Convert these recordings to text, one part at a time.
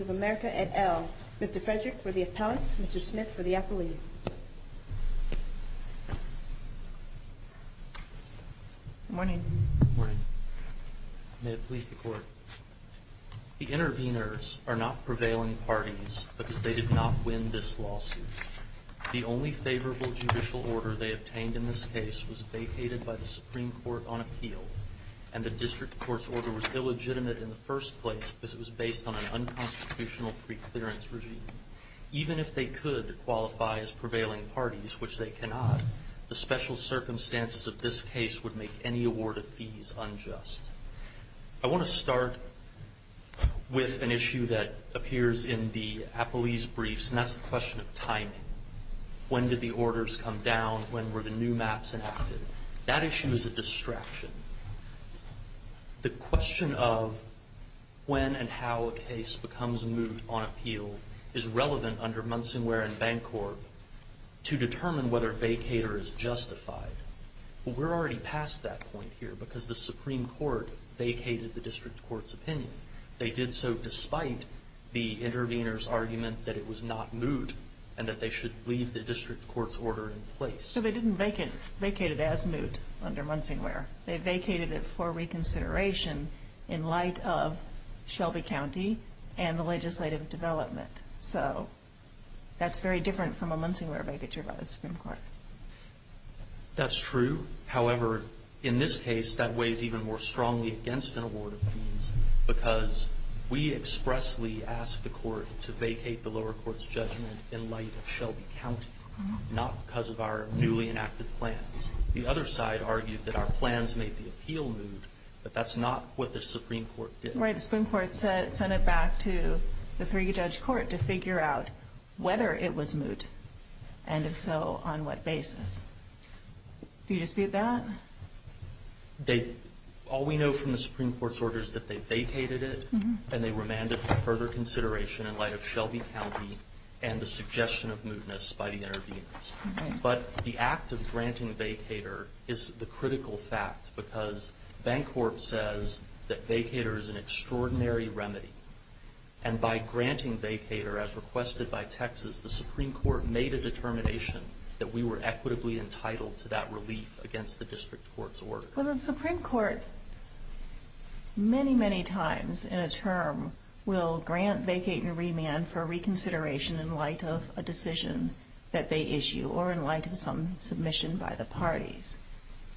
of America, et al. Mr. Frederick for the appellant, Mr. Smith for the appellees. Good morning. Good morning. May it please the court. The interveners are not prevailing parties because they did not win this lawsuit. The only favorable judicial order they obtained in this case was vacated by the Supreme Court on appeal, and the district court's order was illegitimate in the first place because it was based on an unconstitutional preclearance regime. Even if they could qualify as prevailing parties, which they cannot, the special circumstances of this case would make any award of fees unjust. I want to start with an issue that appears in the appellees' briefs, and that's the question of timing. When did the orders come down? When were the new maps enacted? That issue is a distraction. The question of when and how a case becomes moot on appeal is relevant under Munsonware and Bancorp to determine whether vacater is justified. But we're already past that point here because the Supreme Court vacated the district court's opinion. They did so despite the intervener's order in place. So they didn't vacate it as moot under Munsonware. They vacated it for reconsideration in light of Shelby County and the legislative development. So that's very different from a Munsonware vacature by the Supreme Court. That's true. However, in this case, that weighs even more strongly against an award of fees because we expressly asked the court to vacate the lower court's judgment in light of Shelby County, not because of our newly enacted plans. The other side argued that our plans made the appeal moot, but that's not what the Supreme Court did. Right. The Supreme Court sent it back to the three-judge court to figure out whether it was moot, and if so, on what basis. Do you dispute that? All we know from the Supreme Court's order is that they vacated it and they remanded it for further consideration in light of Shelby County and the suggestion of mootness by the interveners. But the act of granting vacater is the critical fact because Bancorp says that vacater is an extraordinary remedy. And by granting vacater, as requested by Texas, the Supreme Court made a determination that we were equitably entitled to that relief against the district court's order. Well, the Supreme Court many, many times in a term will grant vacater remand for reconsideration in light of a decision that they issue, or in light of some submission by the parties.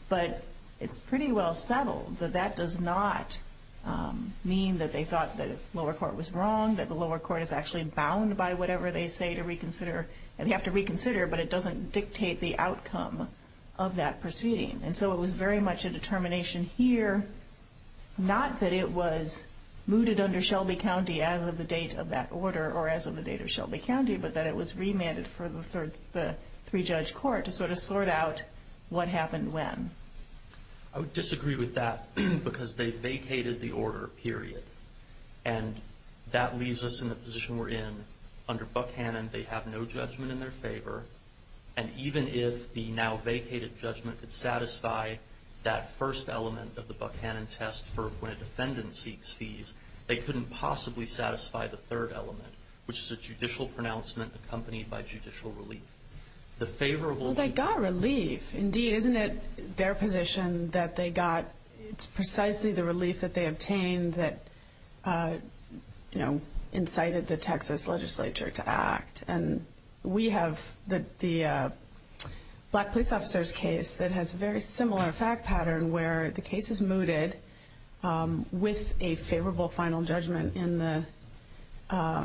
But it's pretty well settled that that does not mean that they thought the lower court was wrong, that the lower court is actually bound by whatever they say to reconsider, and they have to reconsider, but it doesn't dictate the outcome of that proceeding. And so it was very much a determination here, not that it was mooted under Shelby County as of the date of that order or as of the date of Shelby County, but that it was remanded for the three-judge court to sort of sort out what happened when. I would disagree with that because they vacated the order, period. And that leaves us in the position we're in. Under Buckhannon, they have no judgment in their favor. And even if the now vacated judgment could satisfy that first element of the Buckhannon test for when a defendant seeks fees, they couldn't possibly satisfy the third element, which is a judicial pronouncement accompanied by judicial relief. The favorable Well, they got relief. Indeed, isn't it their position that they got, it's precisely the relief that they obtained that, you know, incited the Texas legislature to act? And we have the black police officer's case that has a very similar fact pattern where the case is mooted with a favorable final judgment in the,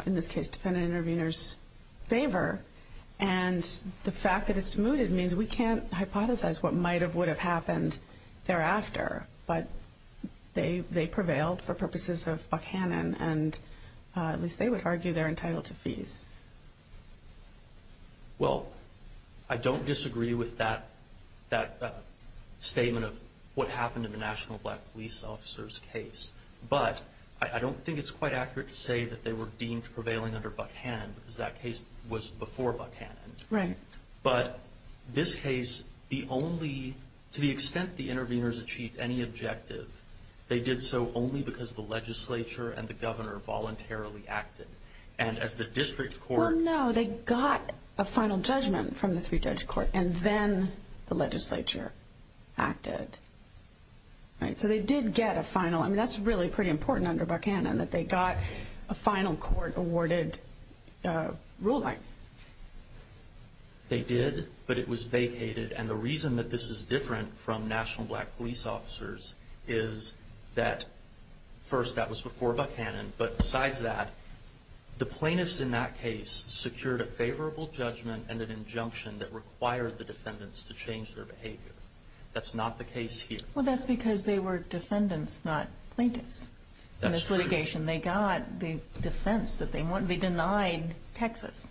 in this case, defendant-intervenor's favor. And the fact that it's mooted means we can't hypothesize what might have, would have happened thereafter. But they prevailed for purposes of Buckhannon, and at least they would argue they're entitled to fees. Well, I don't disagree with that, that statement of what happened in the national black police officer's case. But I don't think it's quite accurate to say that they were deemed prevailing under Buckhannon because that case was before Buckhannon. Right. But this case, the only, to the extent the intervenors achieved any objective, they did so only because the legislature and the governor voluntarily acted. And as the district court Well, no, they got a final judgment from the three-judge court, and then the legislature acted. Right? So they did get a final, I mean, that's really pretty important under Buckhannon that they got a final court-awarded ruling. They did, but it was vacated. And the reason that this is different from national black police officers is that, first, that was before Buckhannon, but besides that, the plaintiffs in that case secured a favorable judgment and an injunction that required the defendants to change their behavior. That's not the case here. Well, that's because they were defendants, not plaintiffs. That's true. In this litigation, they got the defense that they wanted. They denied Texas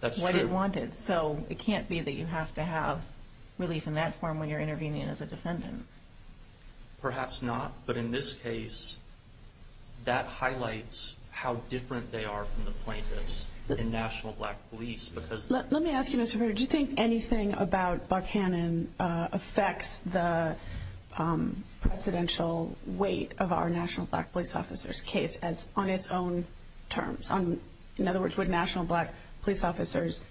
what it wanted. That's true. So it can't be that you have to have relief in that form when you're intervening as a plaintiff. Perhaps not, but in this case, that highlights how different they are from the plaintiffs in national black police because Let me ask you, Mr. Ferrer, do you think anything about Buckhannon affects the presidential weight of our national black police officers case on its own terms? In other words, would national black police officers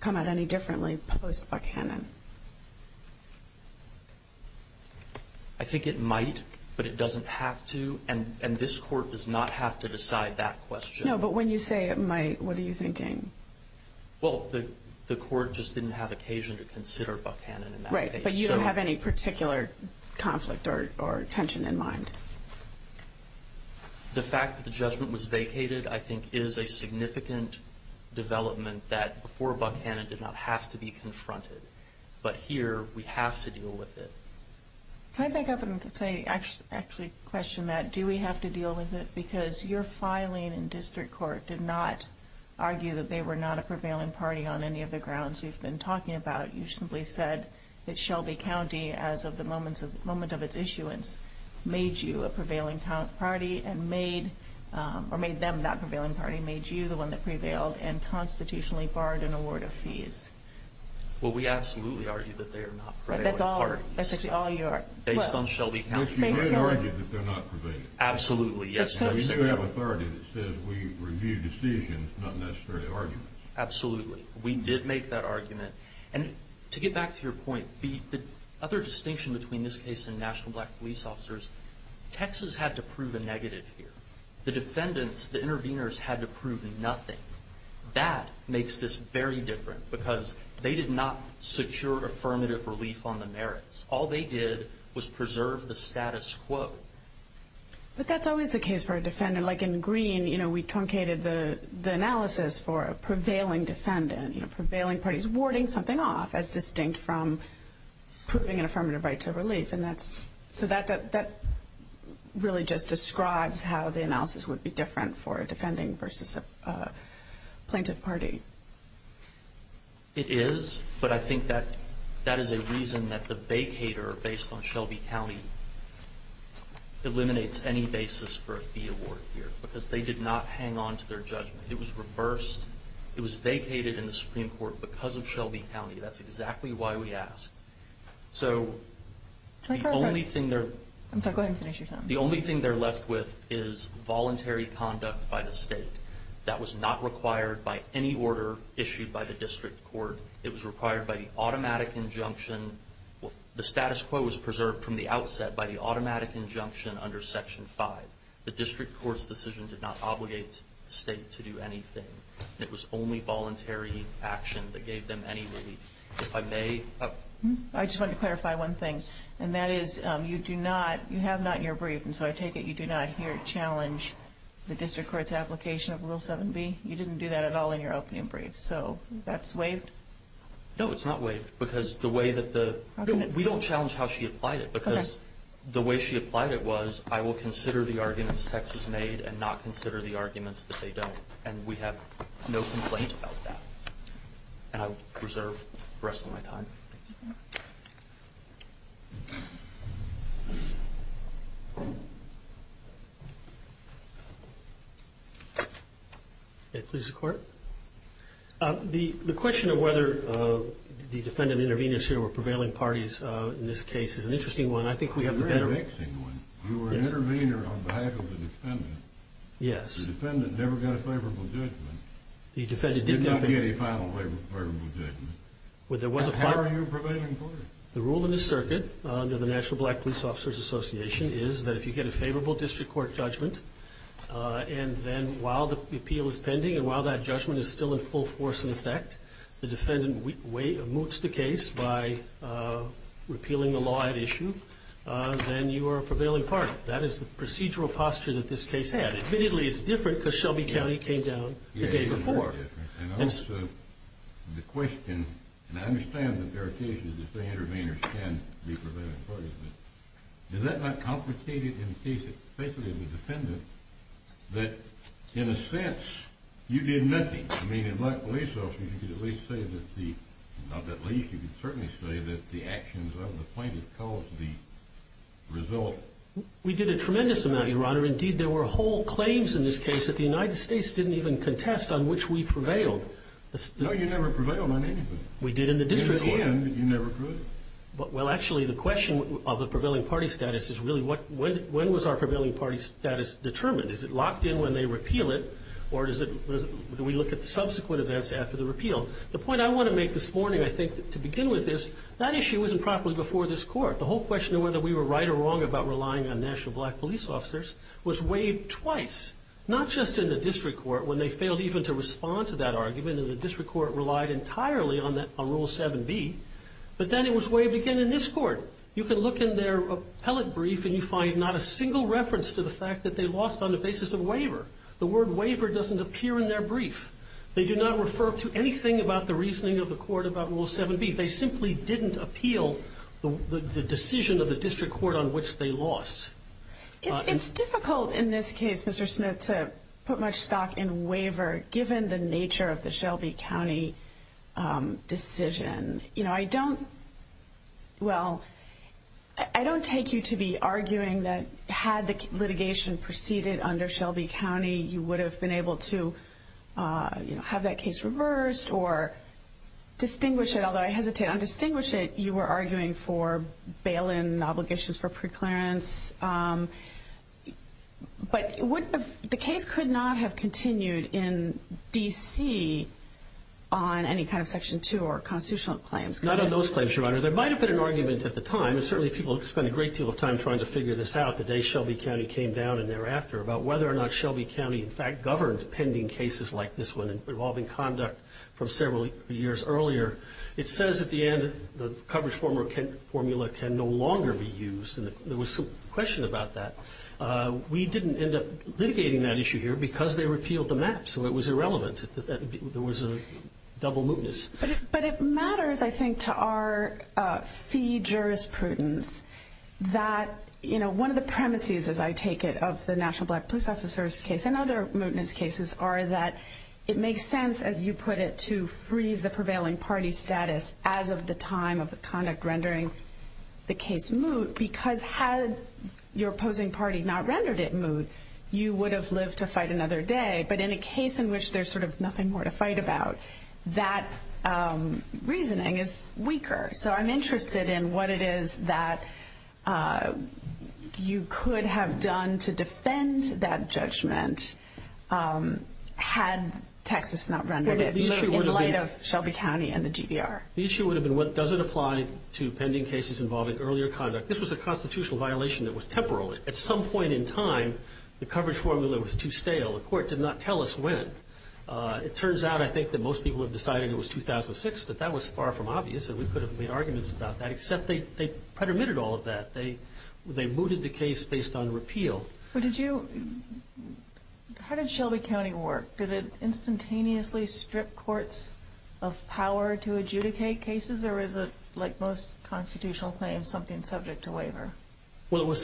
come at any differently post-Buckhannon? I think it might, but it doesn't have to, and this court does not have to decide that question. No, but when you say it might, what are you thinking? Well, the court just didn't have occasion to consider Buckhannon in that case. Right, but you don't have any particular conflict or tension in mind. The fact that the judgment was vacated, I think, is a significant development that before But here, we have to deal with it. Can I back up and actually question that? Do we have to deal with it? Because your filing in district court did not argue that they were not a prevailing party on any of the grounds we've been talking about. You simply said that Shelby County, as of the moment of its issuance, made you a prevailing party, or made them that prevailing party, made you the one that prevailed and constitutionally barred an award of fees. Well, we absolutely argue that they are not prevailing parties, based on Shelby County. But you did argue that they're not prevailing. Absolutely, yes. We do have authority that says we review decisions, not necessarily arguments. Absolutely. We did make that argument, and to get back to your point, the other distinction between this case and national black police officers, Texas had to prove a negative here. The defendants, the intervenors, had to prove nothing. That makes this very different, because they did not secure affirmative relief on the merits. All they did was preserve the status quo. But that's always the case for a defendant. Like in Greene, we truncated the analysis for a prevailing defendant, prevailing parties, warding something off as distinct from proving an affirmative right to relief. So that really just describes how the analysis would be different for a defending versus a plaintiff party. It is, but I think that that is a reason that the vacater, based on Shelby County, eliminates any basis for a fee award here, because they did not hang on to their judgment. It was reversed. It was vacated in the Supreme Court because of Shelby County. That's exactly why we asked. I'm sorry, go ahead and finish your time. The only thing they're left with is voluntary conduct by the state. That was not required by any order issued by the district court. It was required by the automatic injunction. The status quo was preserved from the outset by the automatic injunction under Section 5. The district court's decision did not obligate the state to do anything. It was only voluntary action that gave them any relief. I just wanted to clarify one thing, and that is you do not, you have not in your brief, and so I take it you do not here challenge the district court's application of Rule 7b? You didn't do that at all in your opening brief. So that's waived? No, it's not waived, because the way that the, we don't challenge how she applied it, because the way she applied it was, I will consider the arguments Texas made and not complain about that. And I will preserve the rest of my time. May it please the Court? The question of whether the defendant intervened in this case or were prevailing parties in this case is an interesting one. I think we have the better... Very interesting one. You were an intervener on behalf of the defendant. Yes. The defendant never got a favorable judgment. The defendant did not get a... Did not get a final favorable judgment. Well, there was a final... How are you prevailing party? The rule in this circuit under the National Black Police Officers Association is that if you get a favorable district court judgment, and then while the appeal is pending and while that judgment is still in full force in effect, the defendant moots the case by repealing the law at issue, then you are a prevailing party. That is the procedural posture that this case had. Admittedly, it is different because Shelby County came down the day before. And also, the question, and I understand that there are cases that say interveners can be prevailing parties, but is that not complicated in the case of the defendant that in a sense you did nothing? I mean, in black police officers, you could at least say that the, not that least, you could certainly say that the actions of the plaintiff caused the result... We did a tremendous amount, Your Honor. Indeed, there were whole claims in this case that the United States didn't even contest on which we prevailed. No, you never prevailed on anything. We did in the district court. In the end, you never could. Well, actually, the question of the prevailing party status is really when was our prevailing party status determined? Is it locked in when they repeal it, or do we look at the subsequent events after the repeal? The point I want to make this morning, I think, to begin with is that issue wasn't properly before this Court. The whole question of whether we were right or wrong about relying on national black police officers was waived twice, not just in the district court when they failed even to respond to that argument and the district court relied entirely on Rule 7b, but then it was waived again in this Court. You can look in their appellate brief and you find not a single reference to the fact that they lost on the basis of waiver. The word waiver doesn't appear in their brief. They do not refer to anything about the reasoning of the Court about Rule 7b. They simply didn't appeal the decision of the district court on which they lost. It's difficult in this case, Mr. Smith, to put much stock in waiver given the nature of the Shelby County decision. I don't take you to be arguing that had the litigation proceeded under Shelby County, you would have been able to have that case reversed or distinguish it, although I hesitate on distinguish it. You were arguing for bail-in obligations for preclearance, but the case could not have continued in D.C. on any kind of Section 2 or constitutional claims. Not on those claims, Your Honor. There might have been an argument at the time, and certainly people spent a great deal of time trying to figure this out the day Shelby County came down and thereafter, about whether or not Shelby County in fact governed pending cases like this one involving conduct from several years earlier. It says at the end the coverage formula can no longer be used, and there was some question about that. We didn't end up litigating that issue here because they repealed the map, so it was irrelevant. There was a double mootness. But it matters, I think, to our fee jurisprudence that one of the premises, as I take it, of the National Black Police Officer's case and other mootness cases are that it makes sense, as you put it, to freeze the prevailing party status as of the time of the conduct rendering the case moot, because had your opposing party not rendered it moot, you would have lived to fight another day. But in a case in which there's sort of nothing more to fight about, that reasoning is weaker. So I'm interested in what it is that you could have done to defend that judgment had Texas not rendered it moot in light of Shelby County and the GDR. The issue would have been, does it apply to pending cases involving earlier conduct? This was a constitutional violation that was temporal. At some point in time, the coverage formula was too stale. The court did not tell us when. It turns out, I think, that most people have But that was far from obvious, and we could have made arguments about that, except they predominated all of that. They mooted the case based on repeal. How did Shelby County work? Did it instantaneously strip courts of power to adjudicate cases, or is it, like most constitutional claims, something subject to waiver? Well, it's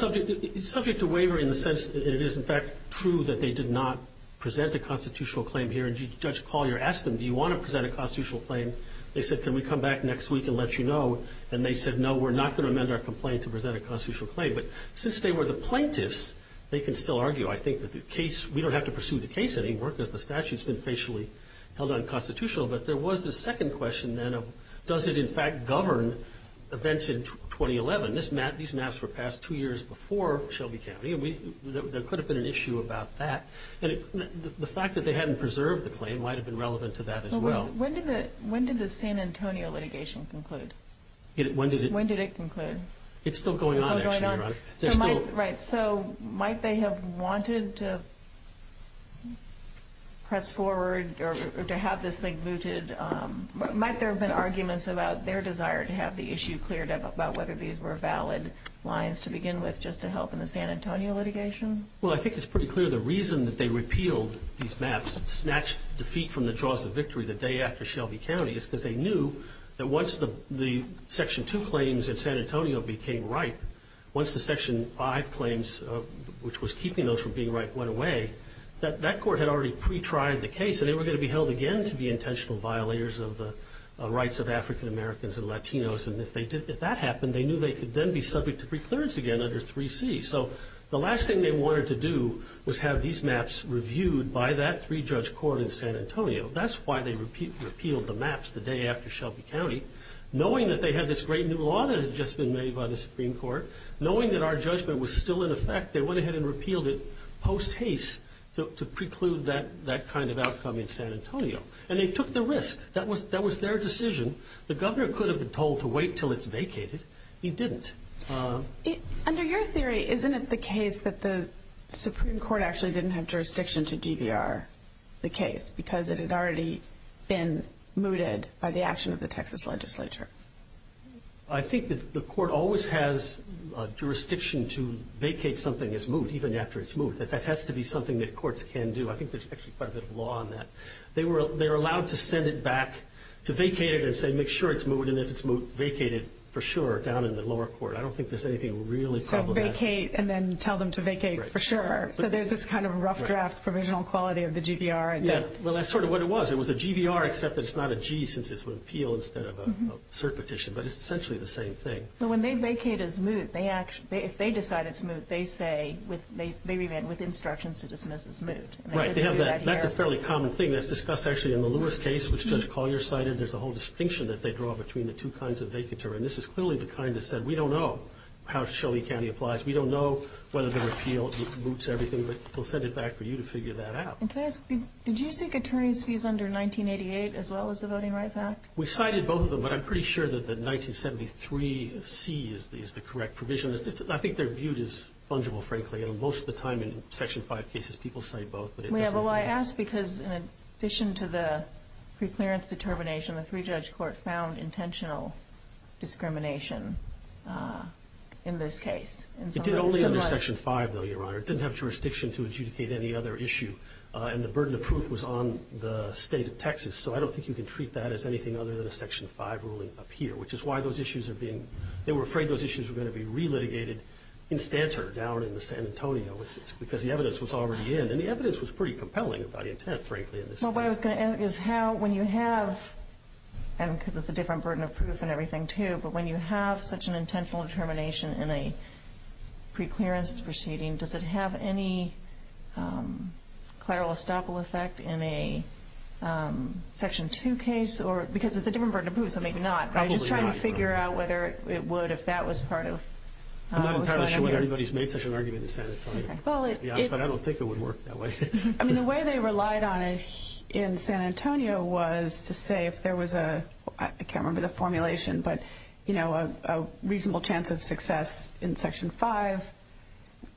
subject to waiver in the sense that it is, in fact, true that they did not present a constitutional claim here. And Judge Collier asked them, do you want to present a constitutional claim? They said, can we come back next week and let you know? And they said, no, we're not going to amend our complaint to present a constitutional claim. But since they were the plaintiffs, they can still argue. I think that the case, we don't have to pursue the case anymore because the statute's been facially held unconstitutional. But there was the second question then of, does it, in fact, govern events in 2011? These maps were passed two years before Shelby County, and there could have been an issue about that. And the fact that they hadn't preserved the claim might have been relevant to that as well. When did the San Antonio litigation conclude? When did it conclude? It's still going on, actually, Your Honor. Right. So might they have wanted to press forward or to have this thing booted? Might there have been arguments about their desire to have the issue cleared up about whether these were valid lines to begin with just to help in the San Antonio litigation? Well, I think it's pretty clear the reason that they repealed these maps, snatched defeat from the jaws of victory the day after Shelby County, is because they knew that once the Section 2 claims in San Antonio became ripe, once the Section 5 claims, which was keeping those from being ripe, went away, that that court had already pre-tried the case, and they were going to be held again to be intentional violators of the rights of African Americans and Latinos. And if that happened, they knew they could then be subject to preclearance again under 3C. So the last thing they wanted to do was have these maps reviewed by that three-judge court in San Antonio. That's why they repealed the maps the day after Shelby County, knowing that they had this great new law that had just been made by the Supreme Court, knowing that our judgment was still in effect, they went ahead and repealed it post-haste to preclude that kind of outcome in San Antonio. And they took the risk. That was their decision. The governor could have been told to wait until it's vacated. He didn't. Under your theory, isn't it the case that the Supreme Court actually didn't have to do this because it had already been mooted by the action of the Texas legislature? I think that the court always has a jurisdiction to vacate something that's moved, even after it's moved. That has to be something that courts can do. I think there's actually quite a bit of law on that. They were allowed to send it back to vacate it and say, make sure it's moved, and if it's moved, vacate it for sure down in the lower court. I don't think there's anything really problematic. So vacate and then tell them to vacate for sure. So there's this kind of rough draft provisional quality of the GVR. Yeah. Well, that's sort of what it was. It was a GVR, except that it's not a G since it's an appeal instead of a cert petition. But it's essentially the same thing. But when they vacate as moot, if they decide it's moot, they say, they remain with instructions to dismiss as moot. Right. That's a fairly common thing. That's discussed actually in the Lewis case, which Judge Collier cited. There's a whole distinction that they draw between the two kinds of vacateur. And this is clearly the kind that said, we don't know how Shelby County applies. We don't know whether the repeal moots everything. But we'll send it back for you to figure that out. And can I ask, did you seek attorney's fees under 1988 as well as the Voting Rights Act? We cited both of them. But I'm pretty sure that the 1973C is the correct provision. I think they're viewed as fungible, frankly. And most of the time in Section 5 cases, people cite both. Well, I ask because in addition to the preclearance determination, the three-judge court found intentional discrimination in this case. It did only under Section 5, though, Your Honor. It didn't have jurisdiction to adjudicate any other issue. And the burden of proof was on the state of Texas. So I don't think you can treat that as anything other than a Section 5 ruling up here, which is why those issues are being, they were afraid those issues were going to be relitigated in stanter down in the San Antonio, because the evidence was already in. And the evidence was pretty compelling about intent, frankly, in this case. Well, what I was going to ask is how, when you have, and because it's a different burden of proof and everything, too, but when you have such an intentional determination in a preclearance proceeding, does it have any collateral estoppel effect in a Section 2 case? Because it's a different burden of proof, so maybe not. Probably not, Your Honor. I'm just trying to figure out whether it would if that was part of what's going on here. I'm not entirely sure why everybody's made such an argument in San Antonio. Well, it is. But I don't think it would work that way. I mean, the way they relied on it in San Antonio was to say if there was a, I can't remember the formulation, but, you know, a reasonable chance of success in Section 5,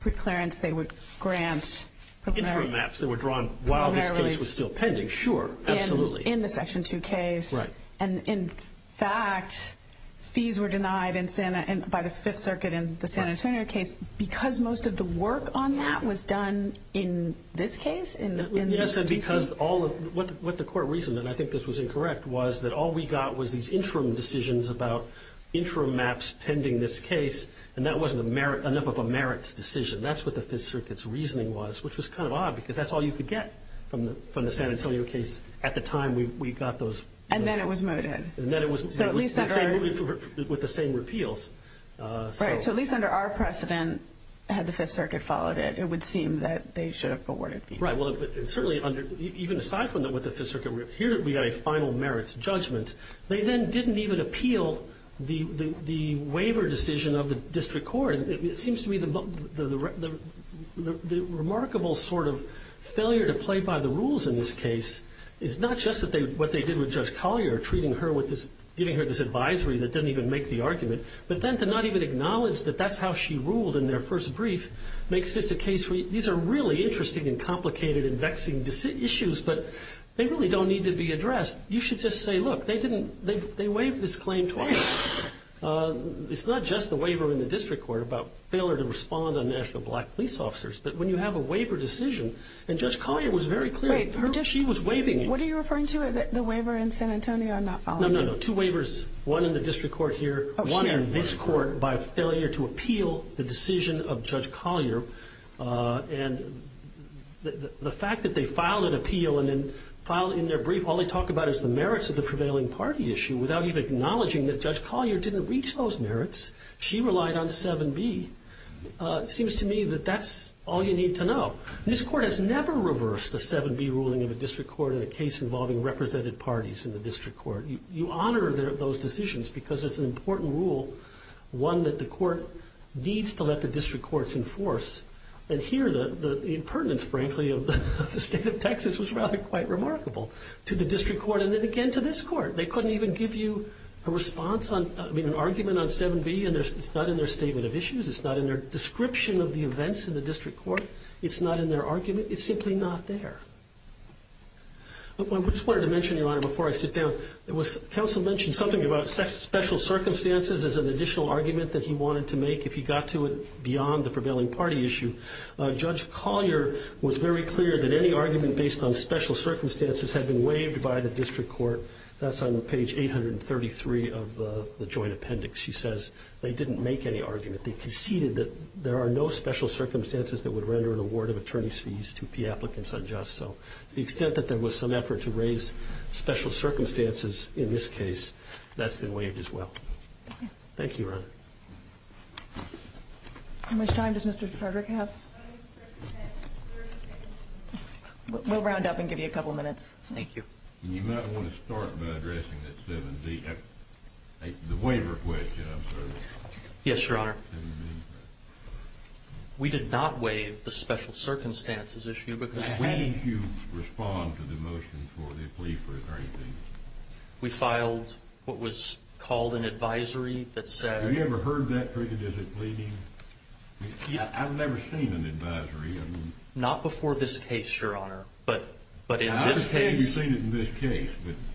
preclearance they would grant. Intramaps that were drawn while this case was still pending, sure, absolutely. In the Section 2 case. Right. And, in fact, fees were denied in San, by the Fifth Circuit in the San Antonio case because most of the work on that was done in this case? Yes, and because what the Court reasoned, and I think this was incorrect, was that all we got was these interim decisions about intramaps pending this case, and that wasn't enough of a merits decision. That's what the Fifth Circuit's reasoning was, which was kind of odd because that's all you could get from the San Antonio case at the time we got those. And then it was mooted. And then it was with the same repeals. Right. So at least under our precedent, had the Fifth Circuit followed it, it would seem that they should have awarded fees. Right. Well, certainly, even aside from what the Fifth Circuit, here we got a final merits judgment. They then didn't even appeal the waiver decision of the District Court. It seems to me the remarkable sort of failure to play by the rules in this case is not just what they did with Judge Collier, treating her with this, giving her this advisory that doesn't even make the argument, but then to not even acknowledge that that's how she ruled in their first brief makes this a case where these are really interesting and complicated and vexing issues, but they really don't need to be addressed. You should just say, look, they waived this claim twice. It's not just the waiver in the District Court about failure to respond on National Black police officers, but when you have a waiver decision, and Judge Collier was very clear. Wait. She was waiving it. What are you referring to, the waiver in San Antonio and not following it? No, no, no. Two waivers, one in the District Court here, one in this court by failure to appeal the decision of Judge Collier. And the fact that they filed an appeal and then filed in their brief, all they talk about is the merits of the prevailing party issue without even acknowledging that Judge Collier didn't reach those merits. She relied on 7B. It seems to me that that's all you need to know. This Court has never reversed a 7B ruling of a District Court in a case involving represented parties in the District Court. You honor those decisions because it's an important rule, one that the Court needs to let the District Courts enforce. And here, the impertinence, frankly, of the state of Texas was rather quite remarkable to the District Court and then again to this Court. They couldn't even give you a response on, I mean, an argument on 7B, and it's not in their statement of issues. It's not in their description of the events in the District Court. It's not in their argument. It's simply not there. I just wanted to mention, Your Honor, before I sit down, that Council mentioned something about special circumstances as an additional argument that he wanted to make if he got to it beyond the prevailing party issue. Judge Collier was very clear that any argument based on special circumstances had been waived by the District Court. That's on page 833 of the joint appendix. She says they didn't make any argument. They conceded that there are no special circumstances that would render an award of the extent that there was some effort to raise special circumstances in this case, that's been waived as well. Thank you, Your Honor. How much time does Mr. Frederick have? We'll round up and give you a couple of minutes. Thank you. You might want to start by addressing that 7B. The waiver question, I'm sorry. Yes, Your Honor. We did not waive the special circumstances issue because... When did you respond to the motion for the plea for attorney? We filed what was called an advisory that said... Have you ever heard that triggered as a plea? I've never seen an advisory. Not before this case, Your Honor, but in this case... I understand you've seen it in this case.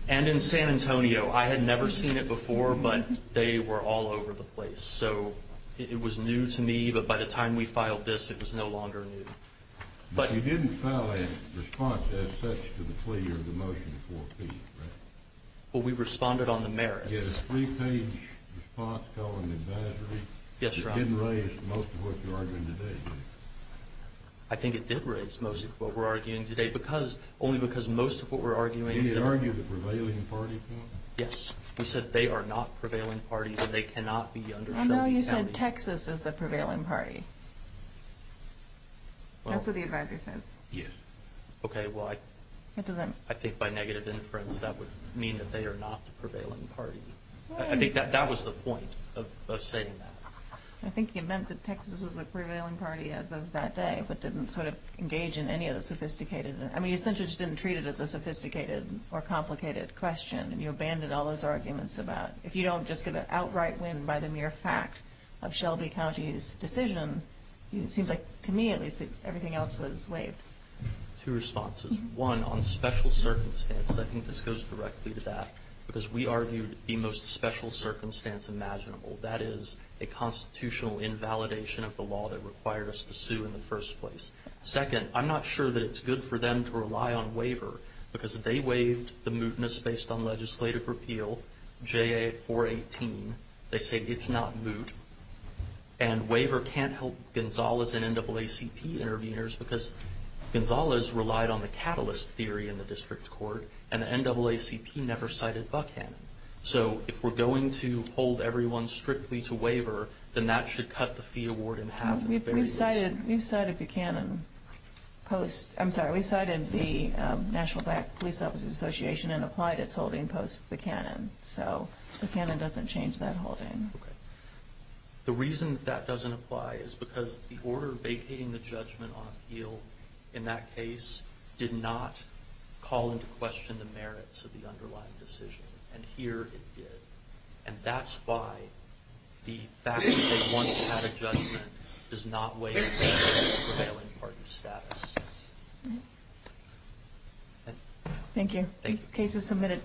And in San Antonio. I had never seen it before, but they were all over the place. So it was new to me, but by the time we filed this, it was no longer new. But you didn't file a response as such to the plea or the motion for a plea, right? Well, we responded on the merits. You had a three-page response called an advisory. Yes, Your Honor. It didn't raise most of what you're arguing today, did it? I think it did raise most of what we're arguing today, only because most of what we're arguing... Did you argue the prevailing parties, though? Yes. You said they are not prevailing parties and they cannot be undershown. No, you said Texas is the prevailing party. That's what the advisory says. Yes. Okay, well, I think by negative inference that would mean that they are not the prevailing party. I think that was the point of saying that. I think you meant that Texas was the prevailing party as of that day, but didn't sort of engage in any of the sophisticated... I mean, you essentially just didn't treat it as a sophisticated or complicated question, and you abandoned all those arguments about, if you don't just get an outright win by the mere fact of Shelby County's decision, it seems like, to me at least, that everything else was waived. Two responses. One, on special circumstances, I think this goes directly to that, because we argued the most special circumstance imaginable, that is a constitutional invalidation of the law that required us to sue in the first place. Second, I'm not sure that it's good for them to rely on waiver, because they waived the mootness based on legislative repeal, J.A. 418. They say it's not moot. And waiver can't help Gonzalez and NAACP interveners, because Gonzalez relied on the catalyst theory in the district court, and the NAACP never cited Buchanan. So if we're going to hold everyone strictly to waiver, then that should cut the fee award in half at the very least. We cited Buchanan post- I'm sorry, we cited the National Black Police Officers Association and applied its holding post-Buchanan. So Buchanan doesn't change that holding. The reason that that doesn't apply is because the order vacating the judgment on appeal in that case did not call into question the merits of the underlying decision. And here it did. And that's why the fact that they once had a judgment does not waive the prevailing pardon status. Thank you. Case is submitted.